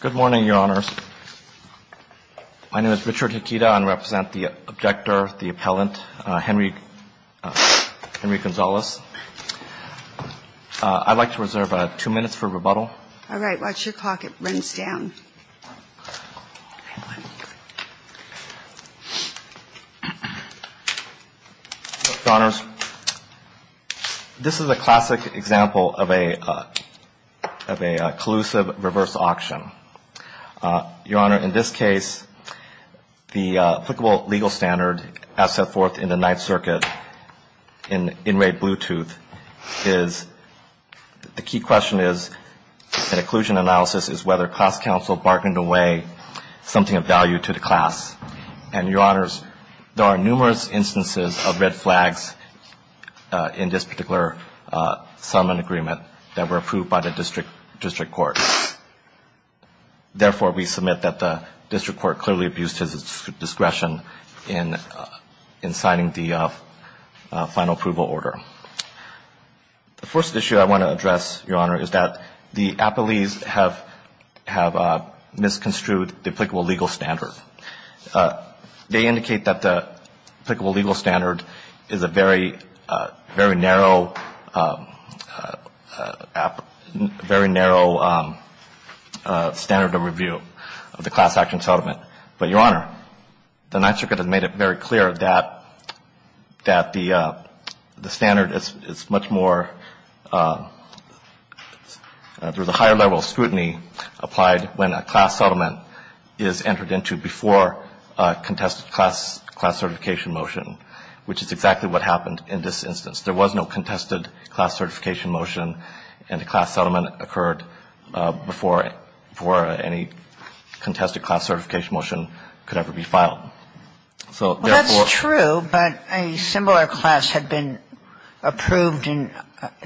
Good morning, Your Honors. My name is Richard Hikita. I represent the objector, the appellant, Henry Gonzales. I'd like to reserve two minutes for rebuttal. All right. Watch your clock. It runs down. Your Honors, this is a classic example of a collusive reverse auction. Your Honor, in this case, the applicable legal standard, as set forth in the Ninth Circuit in inmate Bluetooth, is the key question is that occlusion analysis is whether class counsel bargained away something of value to the class. And, Your Honors, there are numerous instances of red flags in this particular settlement agreement that were approved by the district court. Therefore, we submit that the district court clearly abused his discretion in in signing the final approval order. The first issue I want to address, Your Honor, is that the appellees have have misconstrued the applicable legal standard. They indicate that the applicable legal standard is a very, very narrow, very narrow standard of review of the class action settlement. But, Your Honor, the Ninth Circuit has made it very clear that that the standard is much more, through the higher level of scrutiny, applied when a class settlement is entered into before a contested class certification motion, which is exactly what happened in this instance. There was no contested class certification motion, and a class settlement occurred before any contested class certification motion could ever be filed. So, therefore... Well, that's true, but a similar class had been approved in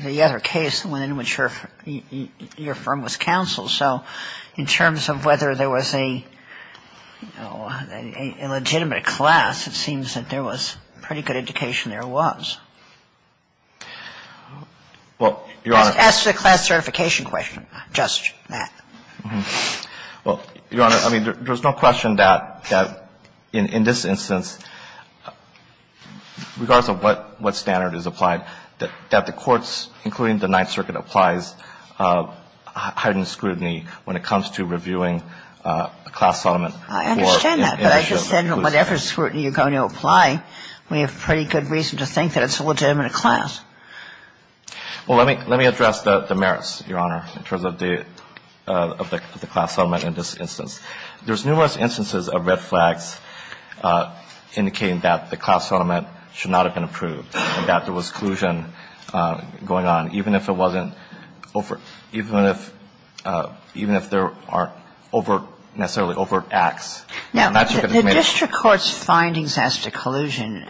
the other case in which your firm was counseled. So in terms of whether there was a legitimate class, it seems that there was pretty good indication there was. Well, Your Honor... As to the class certification question, just that. Well, Your Honor, I mean, there's no question that in this instance, regardless of what standard is applied, that the courts, including the Ninth Circuit, applies heightened scrutiny when it comes to reviewing a class settlement. I understand that, but I just said whatever scrutiny you're going to apply, we have pretty good reason to think that it's a legitimate class. Well, let me address the merits, Your Honor, in terms of the class settlement in this instance. There's numerous instances of red flags indicating that the class settlement should not have been approved, and that there was collusion going on, even if it wasn't over – even if there aren't necessarily overt acts. Now, the district court's findings as to collusion,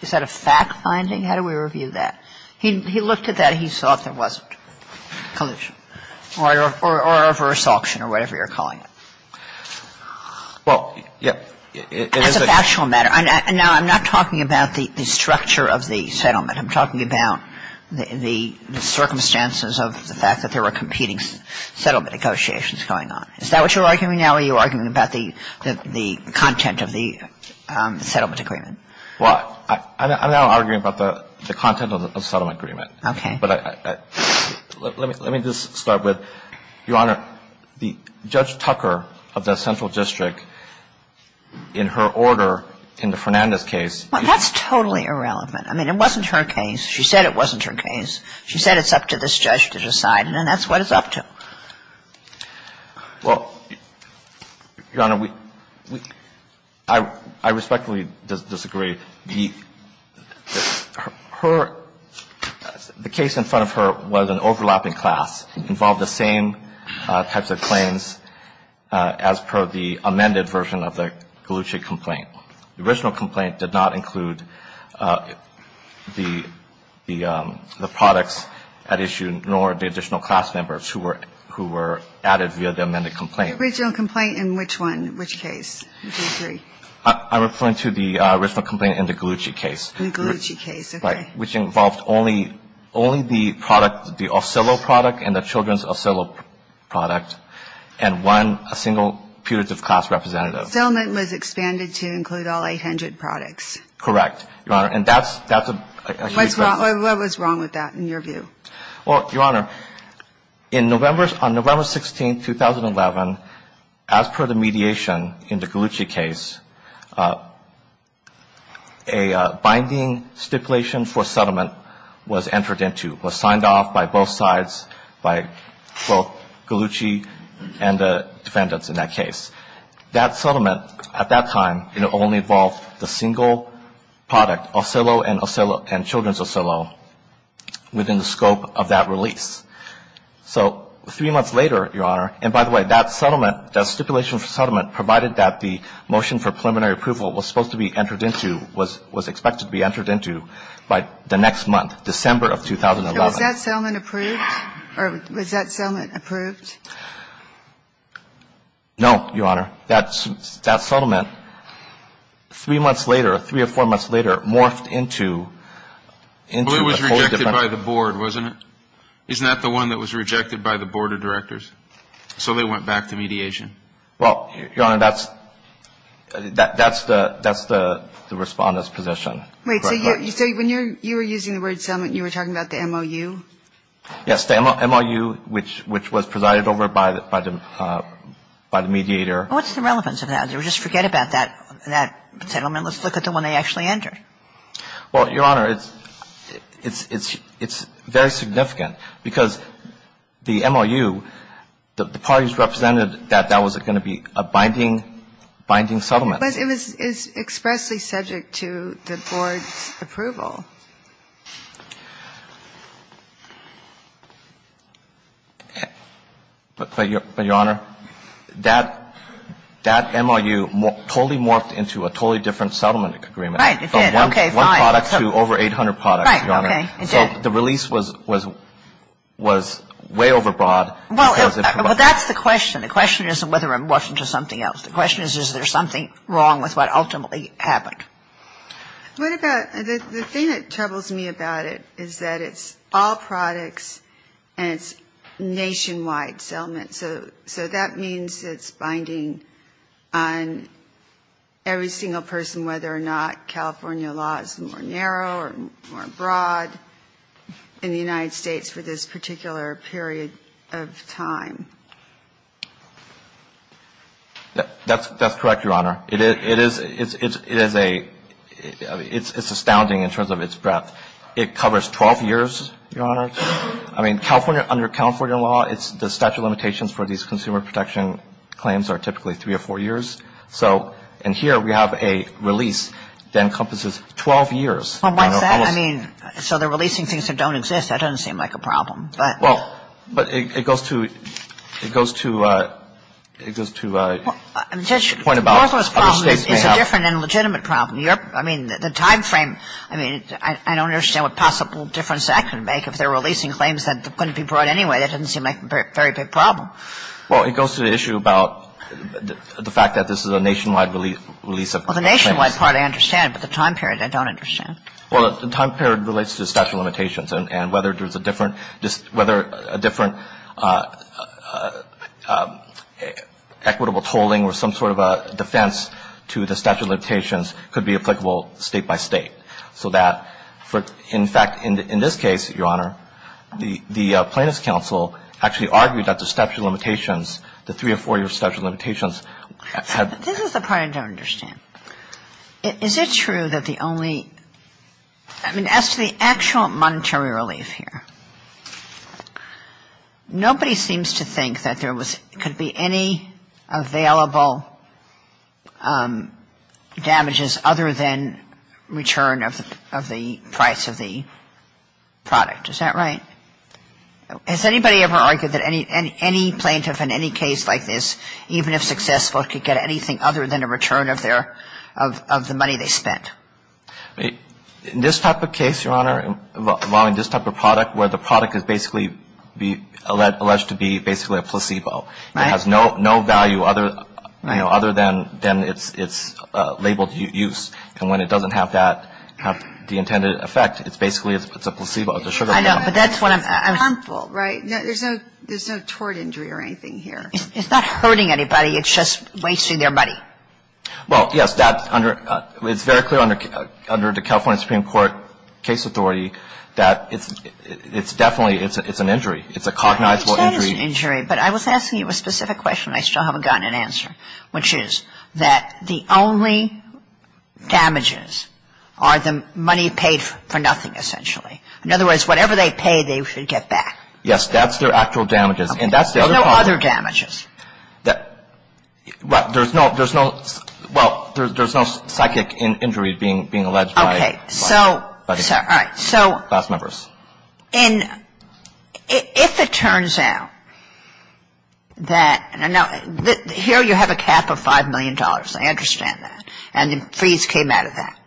is that a fact finding? How do we review that? He looked at that. He thought there wasn't collusion or a reverse auction or whatever you're calling it. Well, yes, it is a... As a factual matter. Now, I'm not talking about the structure of the settlement. I'm talking about the circumstances of the fact that there were competing settlement negotiations going on. Is that what you're arguing now, or are you arguing about the content of the settlement agreement? Well, I'm now arguing about the content of the settlement agreement. Okay. But let me just start with, Your Honor, the Judge Tucker of the Central District, in her order in the Fernandez case... Well, that's totally irrelevant. I mean, it wasn't her case. She said it wasn't her case. She said it's up to this judge to decide, and that's what it's up to. Well, Your Honor, we — I respectfully disagree. Her — the case in front of her was an overlapping class. It involved the same types of claims as per the amended version of the Gallucci complaint. The original complaint did not include the products at issue, nor the additional class members who were added via the amended complaint. The original complaint in which one, which case? I disagree. I'm referring to the original complaint in the Gallucci case. In the Gallucci case. Okay. Right, which involved only the product, the off-sale-o product and the children's off-sale-o product, and one single putative class representative. The settlement was expanded to include all 800 products. Correct, Your Honor. And that's a huge... What was wrong with that, in your view? Well, Your Honor, in November — on November 16, 2011, as per the mediation in the Gallucci case, a binding stipulation for settlement was entered into. It was signed off by both sides, by both Gallucci and the defendants in that case. That settlement, at that time, it only involved the single product, off-sale-o and off-sale-o within the scope of that release. So three months later, Your Honor, and by the way, that settlement, that stipulation for settlement provided that the motion for preliminary approval was supposed to be entered into, was expected to be entered into by the next month, December of 2011. So was that settlement approved? Or was that settlement approved? No, Your Honor. That settlement, three months later, three or four months later, morphed into... But it was rejected by the board, wasn't it? Isn't that the one that was rejected by the board of directors? So they went back to mediation. Well, Your Honor, that's the Respondent's position. Wait. So when you were using the word settlement, you were talking about the MOU? Yes, the MOU, which was presided over by the mediator. What's the relevance of that? Just forget about that settlement. Let's look at the one they actually entered. Well, Your Honor, it's very significant, because the MOU, the parties represented that that was going to be a binding, binding settlement. But it was expressly subject to the board's approval. But, Your Honor, that MOU totally morphed into a totally different settlement agreement. Right, it did. It did. Okay, fine. One product to over 800 products, Your Honor. Right, okay, it did. So the release was way overbroad. Well, that's the question. The question isn't whether it morphed into something else. The question is, is there something wrong with what ultimately happened? What about the thing that troubles me about it is that it's all products and it's nationwide settlement. So that means it's binding on every single person, whether or not California law is more narrow or more broad in the United States for this particular period of time. That's correct, Your Honor. It is a ‑‑ it's astounding in terms of its breadth. It covers 12 years, Your Honor. I mean, California, under California law, the statute of limitations for these consumer protection claims are typically three or four years. So, and here we have a release that encompasses 12 years. Well, what's that? I mean, so they're releasing things that don't exist. That doesn't seem like a problem. But ‑‑ Well, but it goes to ‑‑ it goes to ‑‑ it goes to a point about other States may have. Both of those problems is a different and legitimate problem. I mean, the time frame, I mean, I don't understand what possible difference that could make if they're releasing claims that couldn't be brought anyway. That doesn't seem like a very big problem. Well, it goes to the issue about the fact that this is a nationwide release of claims. Well, the nationwide part I understand, but the time period I don't understand. Well, the time period relates to the statute of limitations, and whether there's a different ‑‑ whether a different equitable tolling or some sort of a defense to the statute of limitations could be applicable State by State. So that, in fact, in this case, Your Honor, the plaintiff's counsel actually argued that the statute of limitations, the three or four year statute of limitations had ‑‑ This is the part I don't understand. Is it true that the only ‑‑ I mean, as to the actual monetary relief here, nobody seems to think that there was ‑‑ could be any available damages other than return of the price of the product. Is that right? Has anybody ever argued that any plaintiff in any case like this, even if successful, could get anything other than a return of their ‑‑ of the money they spent? In this type of case, Your Honor, involving this type of product where the product is basically alleged to be basically a placebo. Right. It has no value other than its labeled use. And when it doesn't have that ‑‑ have the intended effect, it's basically a placebo. I know, but that's what I'm ‑‑ Harmful, right? There's no tort injury or anything here. It's not hurting anybody. It's just wasting their money. Well, yes, that's under ‑‑ it's very clear under the California Supreme Court case authority that it's definitely ‑‑ it's an injury. It's a cognizable injury. It is an injury, but I was asking you a specific question and I still haven't gotten an answer, which is that the only damages are the money paid for nothing, essentially. In other words, whatever they pay, they should get back. Yes, that's their actual damages. There's no other damages. There's no ‑‑ well, there's no psychic injury being alleged by ‑‑ Okay. So, all right. Class members. And if it turns out that ‑‑ now, here you have a cap of $5 million. I understand that. And the fees came out of that.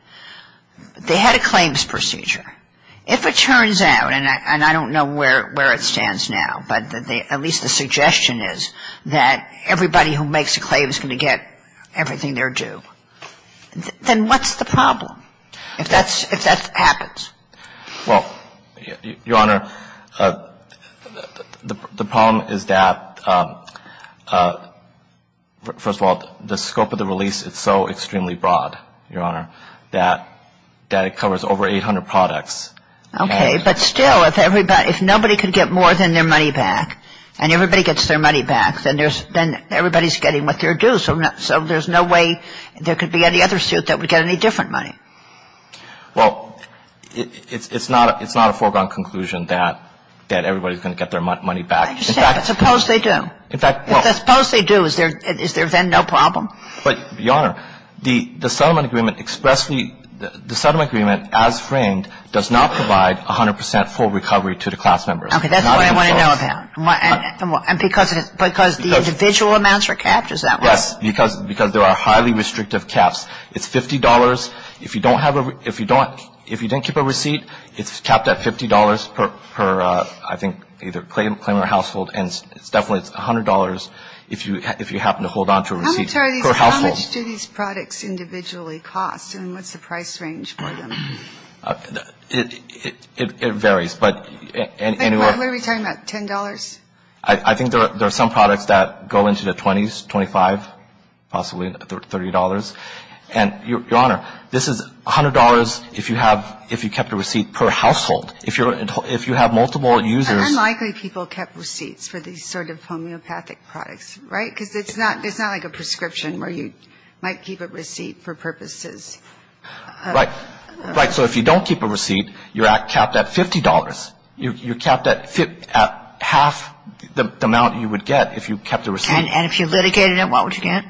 They had a claims procedure. If it turns out, and I don't know where it stands now, but at least the suggestion is that everybody who makes a claim is going to get everything they're due, then what's the problem if that happens? Well, Your Honor, the problem is that, first of all, the scope of the release, it's so extremely broad, Your Honor, that it covers over 800 products. Okay. But still, if nobody could get more than their money back and everybody gets their money back, then everybody's getting what they're due. So there's no way there could be any other suit that would get any different money. Well, it's not a foregone conclusion that everybody's going to get their money back. I understand. I suppose they do. In fact, well ‑‑ If I suppose they do, is there then no problem? But, Your Honor, the settlement agreement expressly ‑‑ the settlement agreement as framed does not provide 100 percent full recovery to the class members. Okay. That's all I want to know about. And because the individual amounts are capped, is that why? Yes. Because there are highly restrictive caps. It's $50. If you don't have a ‑‑ if you don't keep a receipt, it's capped at $50 per, I think, either claimer or household, and it's definitely $100 if you happen to hold on to a receipt per household. How much do these products individually cost, and what's the price range for them? It varies, but anywhere ‑‑ What are we talking about, $10? I think there are some products that go into the 20s, 25, possibly $30. And, Your Honor, this is $100 if you have ‑‑ if you kept a receipt per household. If you have multiple users ‑‑ Unlikely people kept receipts for these sort of homeopathic products, right? Because it's not like a prescription where you might keep a receipt for purposes of ‑‑ Right. Right. So if you don't keep a receipt, you're capped at $50. You're capped at half the amount you would get if you kept a receipt. And if you litigated it, what would you get?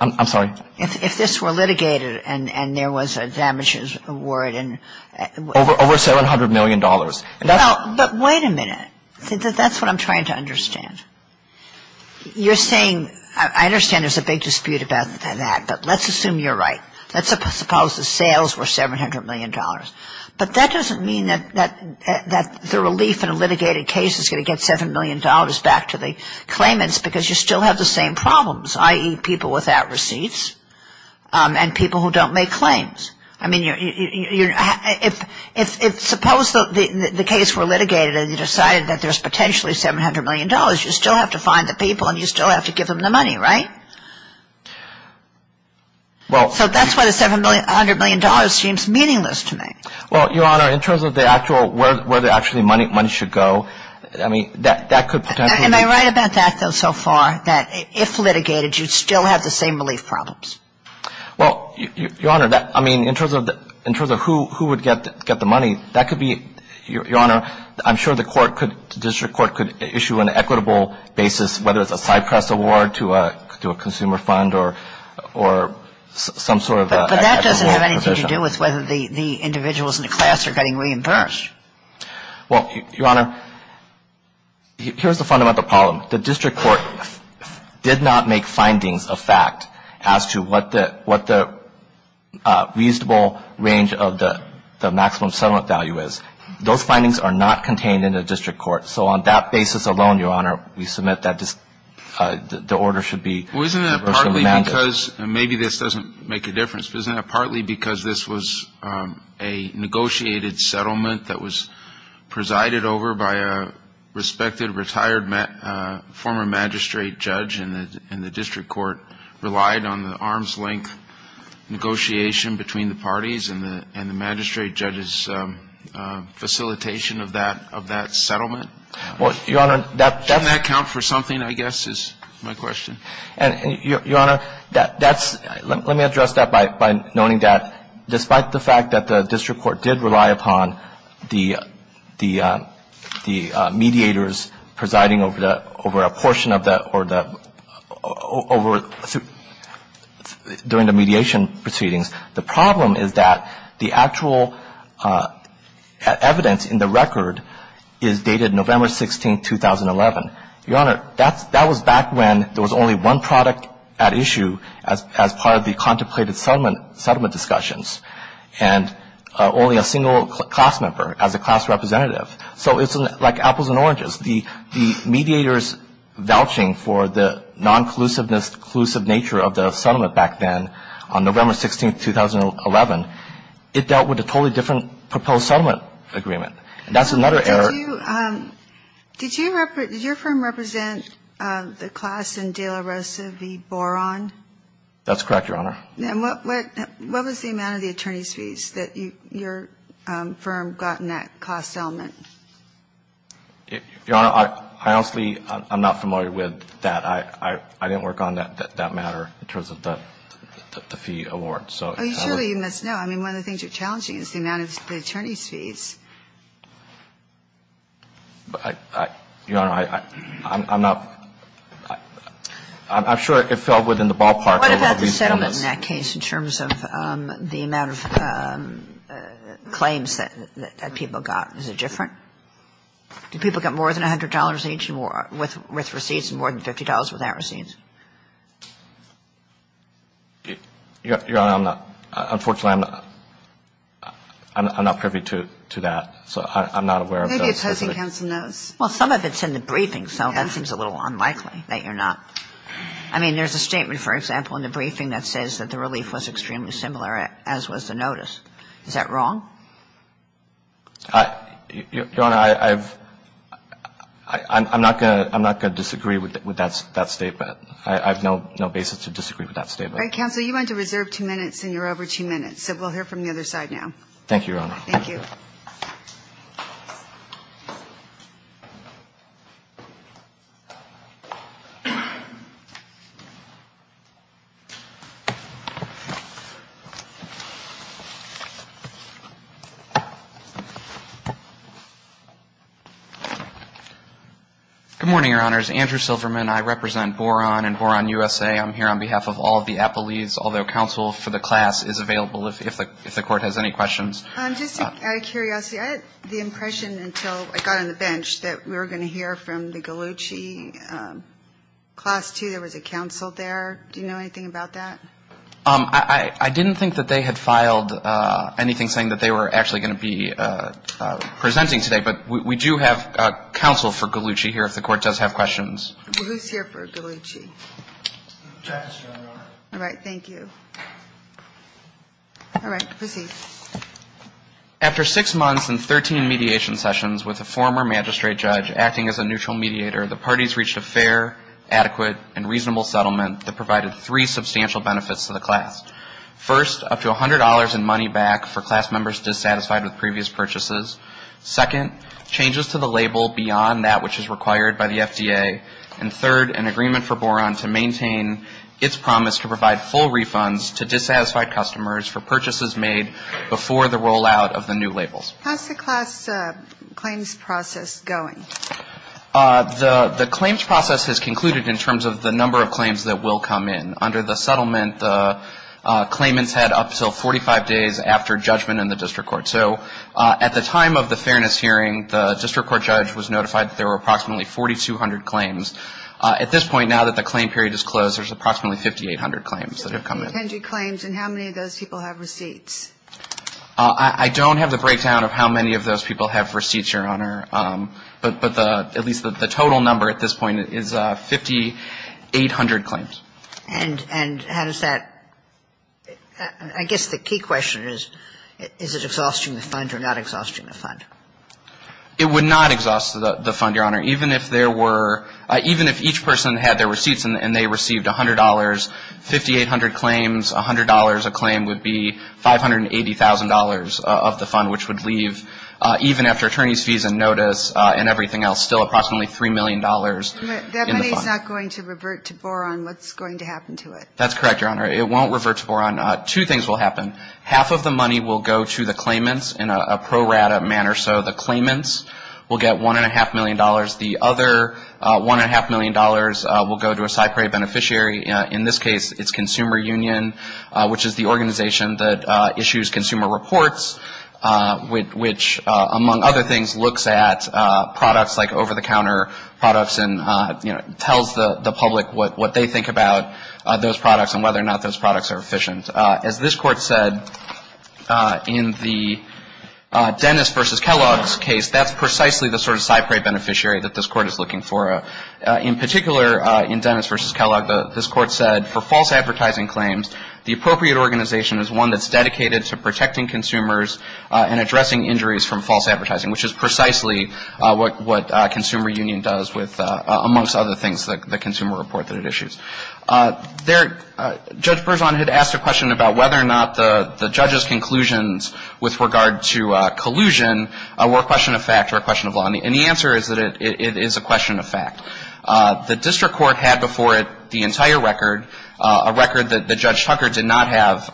I'm sorry? If this were litigated and there was a damages award and ‑‑ Over $700 million. But wait a minute. That's what I'm trying to understand. You're saying, I understand there's a big dispute about that, but let's assume you're right. Let's suppose the sales were $700 million. But that doesn't mean that the relief in a litigated case is going to get $7 million back to the claimants because you still have the same problems, i.e., people without receipts and people who don't make claims. I mean, if suppose the case were litigated and you decided that there's potentially $700 million, you still have to find the people and you still have to give them the money, right? Well ‑‑ So that's why the $700 million seems meaningless to me. Well, Your Honor, in terms of the actual ‑‑ where the actual money should go, I mean, that could potentially ‑‑ Am I right about that, though, so far, that if litigated, you'd still have the same relief problems? Well, Your Honor, I mean, in terms of who would get the money, that could be ‑‑ Your Honor, I'm sure the court could ‑‑ the district court could issue an equitable basis, whether it's a Cypress award to a consumer fund or some sort of ‑‑ But that doesn't have anything to do with whether the individuals in the class are getting reimbursed. Well, Your Honor, here's the fundamental problem. The district court did not make findings of fact as to what the reasonable range of the maximum settlement value is. Those findings are not contained in the district court. So on that basis alone, Your Honor, we submit that the order should be ‑‑ Well, isn't that partly because, and maybe this doesn't make a difference, isn't that partly because this was a negotiated settlement that was presided over by a respected retired former magistrate judge and the district court relied on the arm's length negotiation between the parties and the magistrate judge's facilitation of that settlement? Well, Your Honor, that's ‑‑ Doesn't that count for something, I guess, is my question? And, Your Honor, that's ‑‑ let me address that by noting that, despite the fact that the district court did rely upon the mediators presiding over a portion of the ‑‑ or the ‑‑ during the mediation proceedings, the problem is that the actual evidence in the record is dated November 16, 2011. Your Honor, that was back when there was only one product at issue as part of the contemplated settlement discussions and only a single class member as a class representative. So it's like apples and oranges. The mediators vouching for the noncollusiveness, collusive nature of the settlement back then on November 16, 2011, it dealt with a totally different proposed settlement agreement, and that's another error. Did you ‑‑ did your firm represent the class in De La Rosa v. Boron? That's correct, Your Honor. And what was the amount of the attorney's fees that your firm got in that class settlement? Your Honor, I honestly am not familiar with that. I didn't work on that matter in terms of the fee award. Oh, surely you must know. I mean, one of the things you're challenging is the amount of the attorney's fees. Your Honor, I'm not ‑‑ I'm sure it fell within the ballpark of all these comments. What about the settlement in that case in terms of the amount of claims that people got? Is it different? Do people get more than $100 each with receipts and more than $50 without receipts? Your Honor, I'm not ‑‑ unfortunately, I'm not ‑‑ I'm not privy to that, so I'm not aware of that. Maybe opposing counsel knows. Well, some of it's in the briefing, so that seems a little unlikely that you're not. I mean, there's a statement, for example, in the briefing that says that the relief was extremely similar, as was the notice. Is that wrong? Your Honor, I've ‑‑ I'm not going to disagree with that statement. I have no basis to disagree with that statement. All right, counsel, you went to reserve two minutes, and you're over two minutes. So we'll hear from the other side now. Thank you, Your Honor. Thank you. Good morning, Your Honors. Andrew Silverman. I represent Boron and Boron USA. I'm here on behalf of all of the appellees, although counsel for the class is available if the court has any questions. Just out of curiosity, I had the impression until I got on the bench that we were going to hear from the Gallucci Class II. There was a counsel there. Do you know anything about that? I didn't think that they had filed anything saying that they were actually going to be presenting today, but we do have counsel for Gallucci here if the court does have questions. Well, who's here for Gallucci? Justice, Your Honor. All right. Thank you. All right. Proceed. After six months and 13 mediation sessions with a former magistrate judge acting as a neutral mediator, the parties reached a fair, adequate, and reasonable settlement that provided three substantial benefits to the class. First, up to $100 in money back for class members dissatisfied with previous purchases. Second, changes to the label beyond that which is required by the FDA. And third, an agreement for Boron to maintain its promise to provide full refunds to dissatisfied customers for purchases made before the rollout of the new labels. How's the class claims process going? The claims process has concluded in terms of the number of claims that will come in. Under the settlement, the claimants had up to 45 days after judgment in the district court. So at the time of the fairness hearing, the district court judge was notified that there were approximately 4,200 claims. At this point, now that the claim period is closed, there's approximately 5,800 claims that have come in. How many of those people have receipts? I don't have the breakdown of how many of those people have receipts, Your Honor. But the at least the total number at this point is 5,800 claims. And how does that – I guess the key question is, is it exhausting the fund or not exhausting the fund? It would not exhaust the fund, Your Honor. Even if there were – even if each person had their receipts and they received $100, 5,800 claims, $100 a claim would be $580,000 of the fund, which would leave even after attorneys' fees and notice and everything else still approximately $3 million in the fund. That money is not going to revert to Boron. What's going to happen to it? That's correct, Your Honor. It won't revert to Boron. Two things will happen. Half of the money will go to the claimants in a pro rata manner. So the claimants will get $1.5 million. The other $1.5 million will go to a CyPray beneficiary. In this case, it's Consumer Union, which is the organization that issues consumer reports, which, among other things, looks at products like over-the-counter products and, you know, tells the public what they think about those products and whether or not those products are efficient. As this Court said, in the Dennis v. Kellogg's case, that's precisely the sort of CyPray beneficiary that this Court is looking for. In particular, in Dennis v. Kellogg, this Court said for false advertising claims, the appropriate organization is one that's dedicated to protecting consumers and addressing injuries from false advertising, which is precisely what Consumer Union does with, amongst other things, the consumer report that it issues. There, Judge Berzon had asked a question about whether or not the judge's conclusions with regard to collusion were a question of fact or a question of law. And the answer is that it is a question of fact. The district court had before it the entire record, a record that Judge Tucker did not have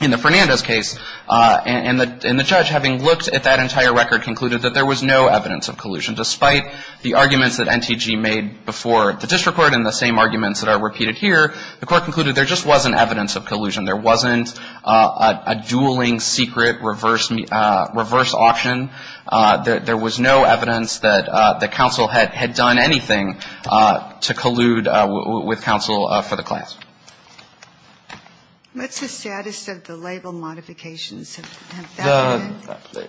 in the Fernandez case. And the judge, having looked at that entire record, concluded that there was no evidence of collusion. Despite the arguments that NTG made before the district court and the same arguments that are repeated here, the Court concluded there just wasn't evidence of collusion. There wasn't a dueling, secret, reverse auction. There was no evidence that the counsel had done anything to collude with counsel for the class. What's the status of the label modifications?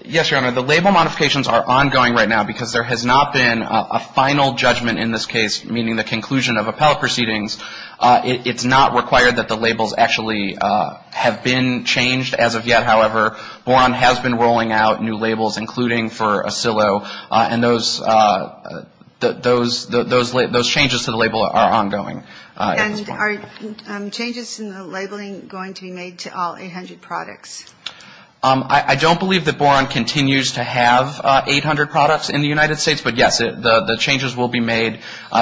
Yes, Your Honor, the label modifications are ongoing right now because there has not been a final judgment in this case, meaning the conclusion of appellate proceedings. It's not required that the labels actually have been changed as of yet, however. Boron has been rolling out new labels, including for Acillo, and those changes to the label are ongoing. And are changes in the labeling going to be made to all 800 products? I don't believe that Boron continues to have 800 products in the United States, but yes, the changes will be made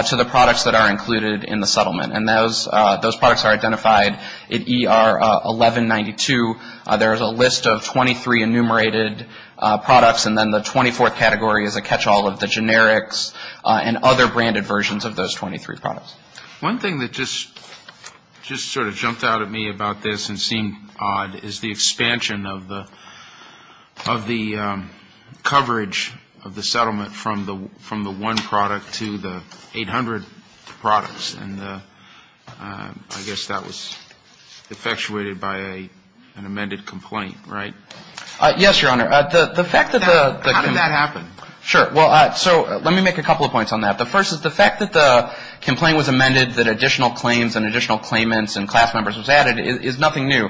to the products that are included in the settlement. And those products are identified in ER 1192. There is a list of 23 enumerated products, and then the 24th category is a catch-all of the generics and other branded versions of those 23 products. One thing that just sort of jumped out at me about this and seemed odd is the expansion of the coverage of the settlement from the one product to the 800 products. And I guess that was effectuated by an amended complaint, right? Yes, Your Honor. How did that happen? Sure. Well, so let me make a couple of points on that. The first is the fact that the complaint was amended, that additional claims and additional claimants and class members was added is nothing new.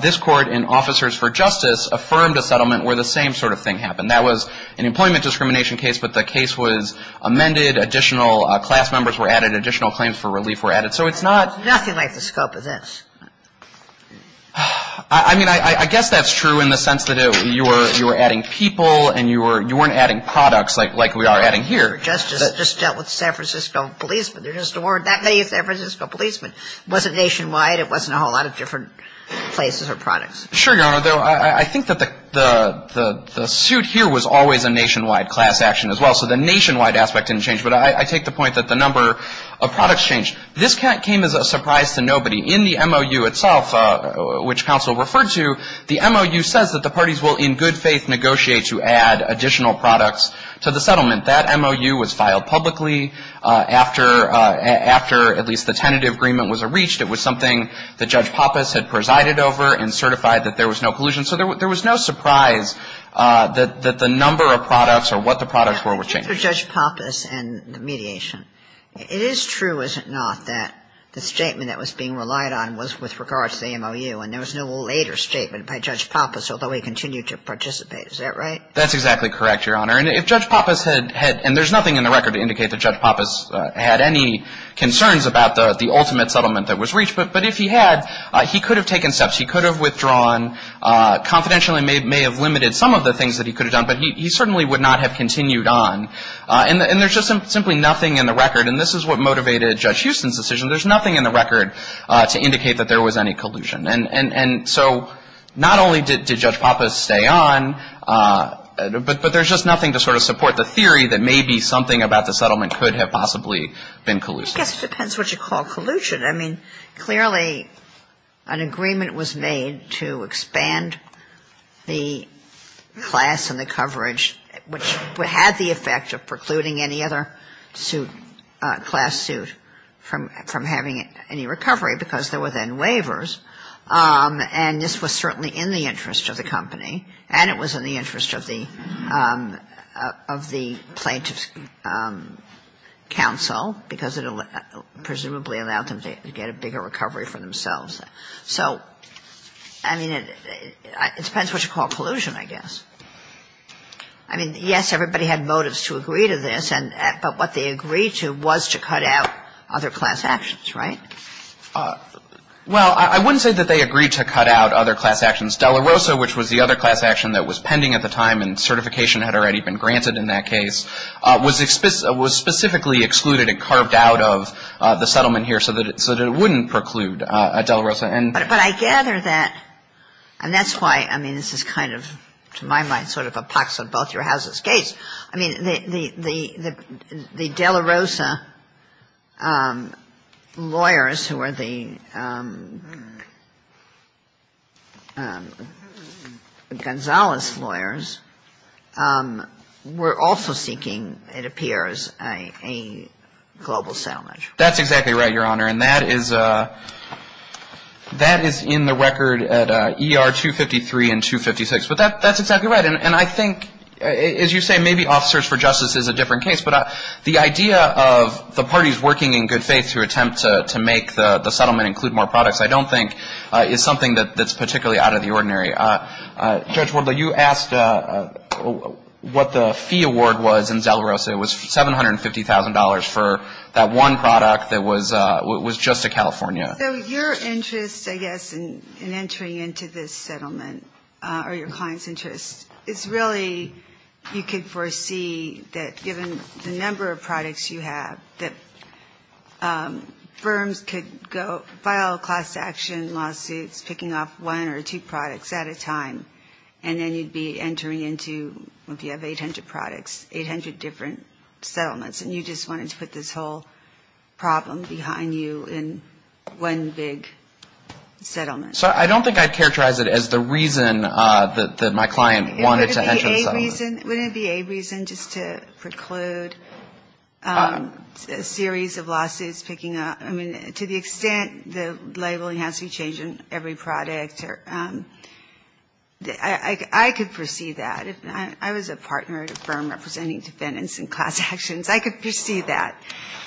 This Court in Officers for Justice affirmed a settlement where the same sort of thing happened. That was an employment discrimination case, but the case was amended, additional class members were added, additional claims for relief were added. So it's not ñ Nothing like the scope of this. I mean, I guess that's true in the sense that you were adding people and you weren't adding products like we are adding here. Officers for Justice just dealt with San Francisco policemen. There just weren't that many San Francisco policemen. It wasn't nationwide. It wasn't a whole lot of different places or products. Sure, Your Honor. I think that the suit here was always a nationwide class action as well. So the nationwide aspect didn't change. But I take the point that the number of products changed. This came as a surprise to nobody. In the MOU itself, which counsel referred to, the MOU says that the parties will in good faith negotiate to add additional products to the settlement. That MOU was filed publicly after at least the tentative agreement was reached. It was something that Judge Pappas had presided over and certified that there was no collusion. So there was no surprise that the number of products or what the products were, were changed. But after Judge Pappas and the mediation, it is true, is it not, that the statement that was being relied on was with regard to the MOU and there was no later statement by Judge Pappas, although he continued to participate. Is that right? That's exactly correct, Your Honor. And if Judge Pappas had, and there's nothing in the record to indicate that Judge Pappas had any concerns about the ultimate settlement that was reached. But if he had, he could have taken steps. He could have withdrawn, confidentially may have limited some of the things that he could have done. But he certainly would not have continued on. And there's just simply nothing in the record, and this is what motivated Judge Houston's decision. There's nothing in the record to indicate that there was any collusion. And so not only did Judge Pappas stay on, but there's just nothing to sort of support the theory that maybe something about the settlement could have possibly been collusion. I guess it depends what you call collusion. I mean, clearly an agreement was made to expand the class and the coverage, which had the effect of precluding any other class suit from having any recovery, because there were then waivers. And this was certainly in the interest of the company, and it was in the interest of the plaintiff's counsel, because it presumably allowed them to get a bigger recovery for themselves. So, I mean, it depends what you call collusion, I guess. I mean, yes, everybody had motives to agree to this, but what they agreed to was to cut out other class actions, right? Well, I wouldn't say that they agreed to cut out other class actions. Dela Rosa, which was the other class action that was pending at the time and certification had already been granted in that case, was specifically excluded and carved out of the settlement here so that it wouldn't preclude Dela Rosa. But I gather that, and that's why, I mean, this is kind of, to my mind, sort of a pox on both your houses' gates. I mean, the Dela Rosa lawyers who are the Gonzales lawyers were also seeking, it appears, a global salvage. That's exactly right, Your Honor. And that is in the record at ER 253 and 256. But that's exactly right. And I think, as you say, maybe Office Search for Justice is a different case, but the idea of the parties working in good faith to attempt to make the settlement include more products, I don't think is something that's particularly out of the ordinary. Judge Wardle, you asked what the fee award was in Dela Rosa. It was $750,000 for that one product that was just to California. So your interest, I guess, in entering into this settlement, or your client's interest, is really you could foresee that given the number of products you have, that firms could file a class action lawsuit picking off one or two products at a time, and then you'd be entering into, if you have 800 products, 800 different settlements, and you just wanted to put this whole problem behind you in one big settlement. So I don't think I'd characterize it as the reason that my client wanted to enter the settlement. Wouldn't it be a reason just to preclude a series of lawsuits picking up? I mean, to the extent the labeling has to be changed in every product, I could foresee that. If I was a partner at a firm representing defendants in class actions, I could foresee that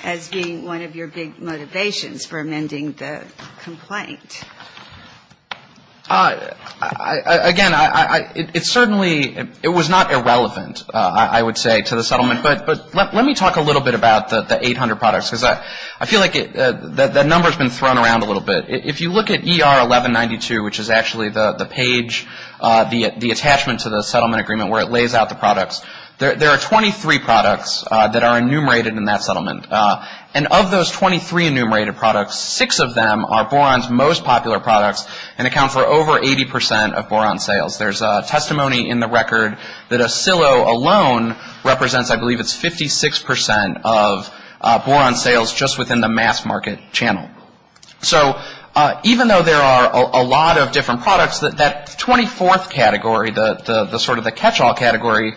as being one of your big motivations for amending the complaint. Again, it certainly, it was not irrelevant, I would say, to the settlement. But let me talk a little bit about the 800 products because I feel like that number has been thrown around a little bit. If you look at ER 1192, which is actually the page, the attachment to the settlement agreement where it lays out the products, there are 23 products that are enumerated in that settlement. And of those 23 enumerated products, 6 of them are Boron's most popular products and account for over 80% of Boron sales. There's testimony in the record that a silo alone represents, I believe, it's 56% of Boron sales just within the mass market channel. So even though there are a lot of different products, that 24th category, the sort of the catch-all category,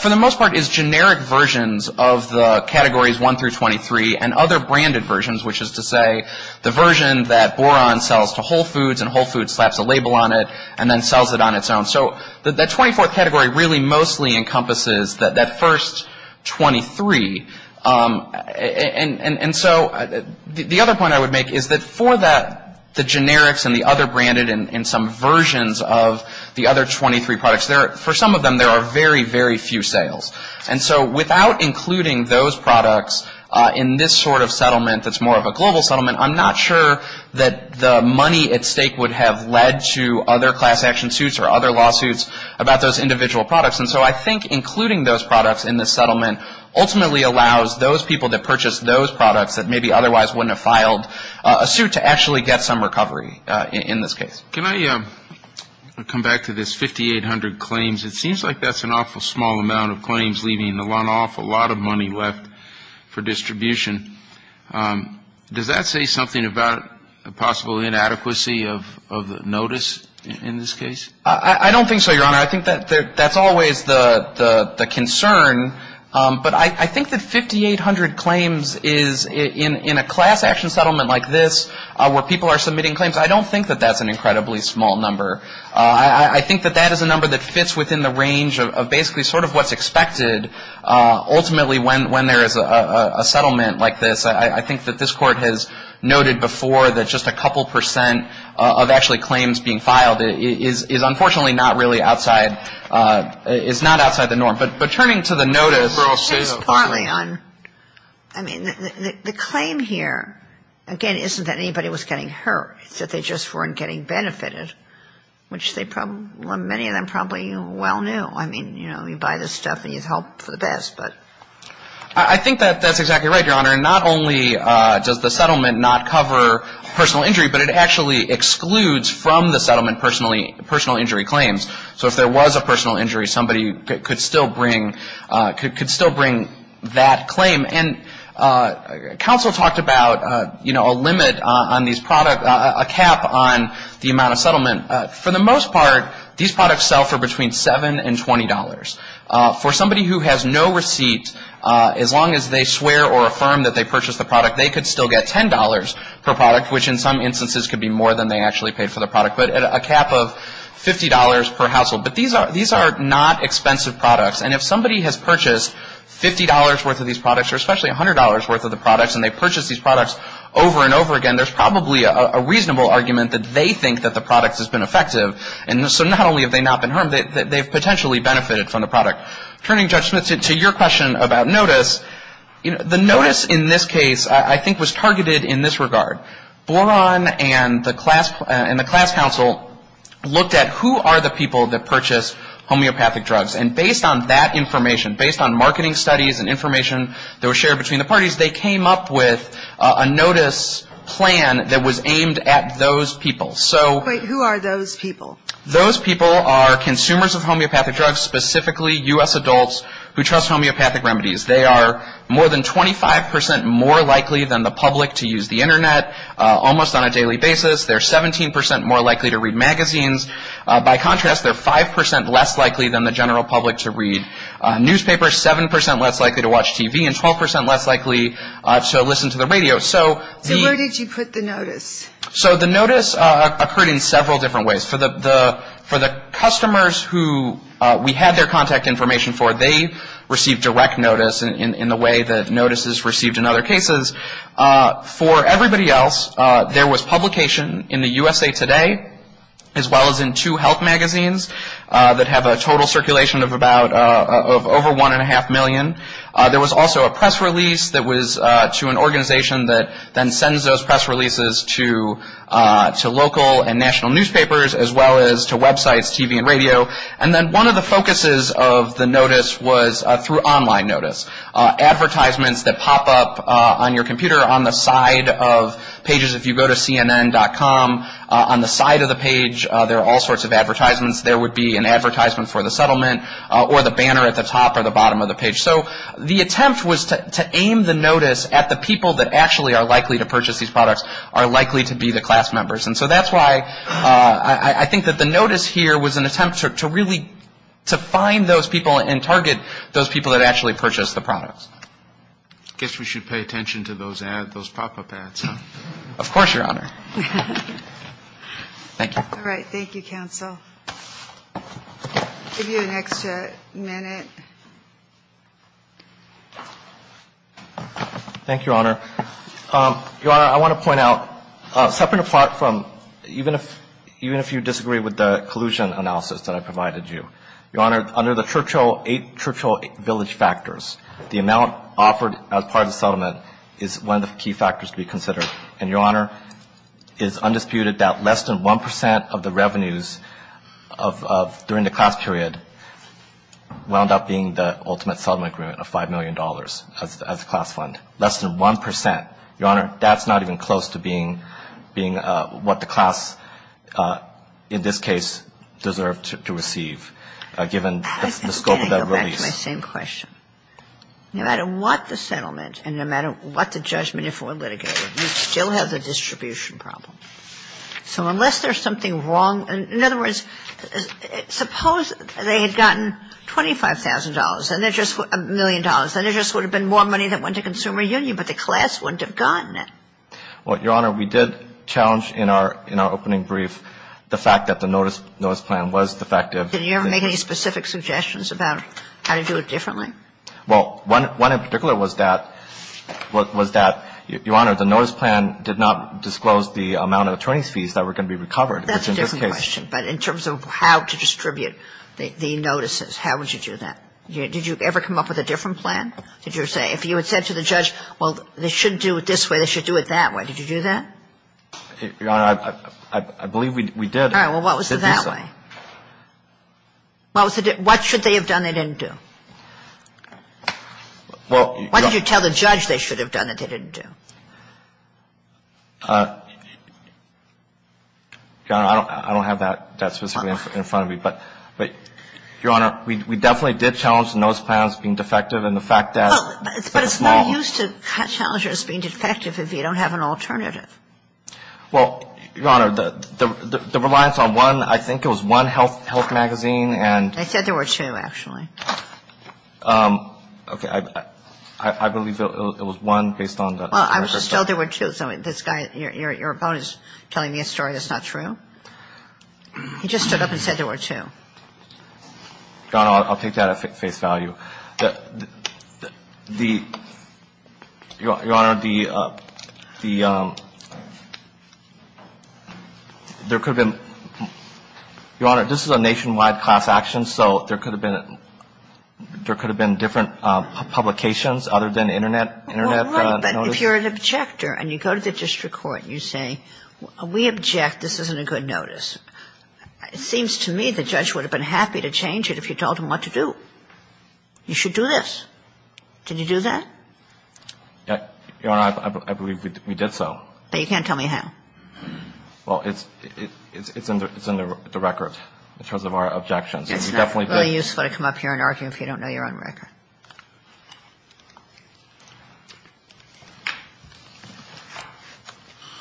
for the most part is generic versions of the categories 1 through 23 and other branded versions, which is to say the version that Boron sells to Whole Foods and Whole Foods slaps a label on it and then sells it on its own. So that 24th category really mostly encompasses that first 23. And so the other point I would make is that for the generics and the other branded and some versions of the other 23 products, for some of them there are very, very few sales. And so without including those products in this sort of settlement that's more of a global settlement, I'm not sure that the money at stake would have led to other class action suits or other lawsuits about those individual products. And so I think including those products in this settlement ultimately allows those people that purchased those products that maybe otherwise wouldn't have filed a suit to actually get some recovery in this case. Can I come back to this 5,800 claims? It seems like that's an awful small amount of claims, leaving an awful lot of money left for distribution. Does that say something about the possible inadequacy of the notice in this case? I don't think so, Your Honor. I think that's always the concern. But I think that 5,800 claims in a class action settlement like this where people are submitting claims, I don't think that that's an incredibly small number. I think that that is a number that fits within the range of basically sort of what's expected ultimately when there is a settlement like this. I think that this Court has noted before that just a couple percent of actually claims being filed is unfortunately not really outside, is not outside the norm. But turning to the notice. I think it's partly on, I mean, the claim here, again, isn't that anybody was getting hurt. It's that they just weren't getting benefited, which many of them probably well knew. I mean, you know, you buy the stuff and you hope for the best, but. I think that that's exactly right, Your Honor. Not only does the settlement not cover personal injury, but it actually excludes from the settlement personal injury claims. So if there was a personal injury, somebody could still bring that claim. And counsel talked about, you know, a limit on these products, a cap on the amount of settlement. For the most part, these products sell for between $7 and $20. For somebody who has no receipt, as long as they swear or affirm that they purchased the product, they could still get $10 per product, which in some instances could be more than they actually paid for the product. But a cap of $50 per household. But these are not expensive products. And if somebody has purchased $50 worth of these products, or especially $100 worth of the products, and they purchase these products over and over again, there's probably a reasonable argument that they think that the product has been effective. And so not only have they not been harmed, they've potentially benefited from the product. Turning, Judge Smith, to your question about notice, the notice in this case I think was targeted in this regard. Boron and the class counsel looked at who are the people that purchase homeopathic drugs. And based on that information, based on marketing studies and information that was shared between the parties, they came up with a notice plan that was aimed at those people. Wait, who are those people? Those people are consumers of homeopathic drugs, specifically U.S. adults who trust homeopathic remedies. They are more than 25% more likely than the public to use the Internet almost on a daily basis. They're 17% more likely to read magazines. By contrast, they're 5% less likely than the general public to read newspapers, 7% less likely to watch TV, and 12% less likely to listen to the radio. So where did you put the notice? So the notice occurred in several different ways. For the customers who we had their contact information for, they received direct notice in the way that notices received in other cases. For everybody else, there was publication in the USA Today as well as in two health magazines that have a total circulation of about over 1.5 million. There was also a press release that was to an organization that then sends those press releases to local and national newspapers as well as to websites, TV and radio. And then one of the focuses of the notice was through online notice. Advertisements that pop up on your computer on the side of pages. If you go to CNN.com, on the side of the page there are all sorts of advertisements. There would be an advertisement for the settlement or the banner at the top or the bottom of the page. So the attempt was to aim the notice at the people that actually are likely to purchase these products, are likely to be the class members. And so that's why I think that the notice here was an attempt to really define those people and target those people that actually purchased the products. I guess we should pay attention to those pop-up ads, huh? Of course, Your Honor. Thank you. All right. Thank you, counsel. I'll give you an extra minute. Thank you, Your Honor. Your Honor, I want to point out, separate apart from even if you disagree with the collusion analysis that I provided you, Your Honor, under the Churchill, eight Churchill Village factors, the amount offered as part of the settlement is one of the key factors to be considered. And, Your Honor, it is undisputed that less than 1 percent of the revenues of during the class period wound up being the ultimate settlement agreement of $5 million as a class fund, less than 1 percent. Your Honor, that's not even close to being what the class, in this case, deserved to receive, given the scope of that release. I think I'm going to go back to my same question. No matter what the settlement and no matter what the judgment, if it were litigated, you'd still have the distribution problem. So unless there's something wrong, in other words, suppose they had gotten $25,000, then there's just $1 million, then there just would have been more money that went to consumer union, but the class wouldn't have gotten it. Well, Your Honor, we did challenge in our opening brief the fact that the notice plan was defective. Did you ever make any specific suggestions about how to do it differently? Well, one in particular was that, Your Honor, the notice plan did not disclose the amount of attorneys' fees that were going to be recovered, which in this case That's a different question. But in terms of how to distribute the notices, how would you do that? Did you ever come up with a different plan? Did you say, if you had said to the judge, well, they shouldn't do it this way, they should do it that way, did you do that? Your Honor, I believe we did. All right. Well, what was it that way? What should they have done they didn't do? Why did you tell the judge they should have done it they didn't do? Your Honor, I don't have that specifically in front of me. But, Your Honor, we definitely did challenge the notice plan as being defective and the fact that it's a small one. But it's no use to challenge it as being defective if you don't have an alternative. Well, Your Honor, the reliance on one, I think it was one health magazine and I said there were two, actually. Okay. I believe it was one based on the Well, I was just told there were two. So this guy, your opponent is telling me a story that's not true. He just stood up and said there were two. Your Honor, I'll take that at face value. The, Your Honor, the, there could have been, Your Honor, this is a nationwide class action, so there could have been different publications other than Internet notice. Well, right, but if you're an objector and you go to the district court and you say we object, this isn't a good notice, it seems to me the judge would have been happy to change it if you told him what to do. You should do this. Did you do that? Your Honor, I believe we did so. But you can't tell me how. Well, it's in the record in terms of our objections. It's really useful to come up here and argue if you don't know your own record.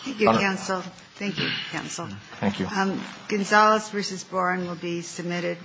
Thank you, counsel. Thank you, counsel. Thank you. Gonzales v. Boren will be submitted.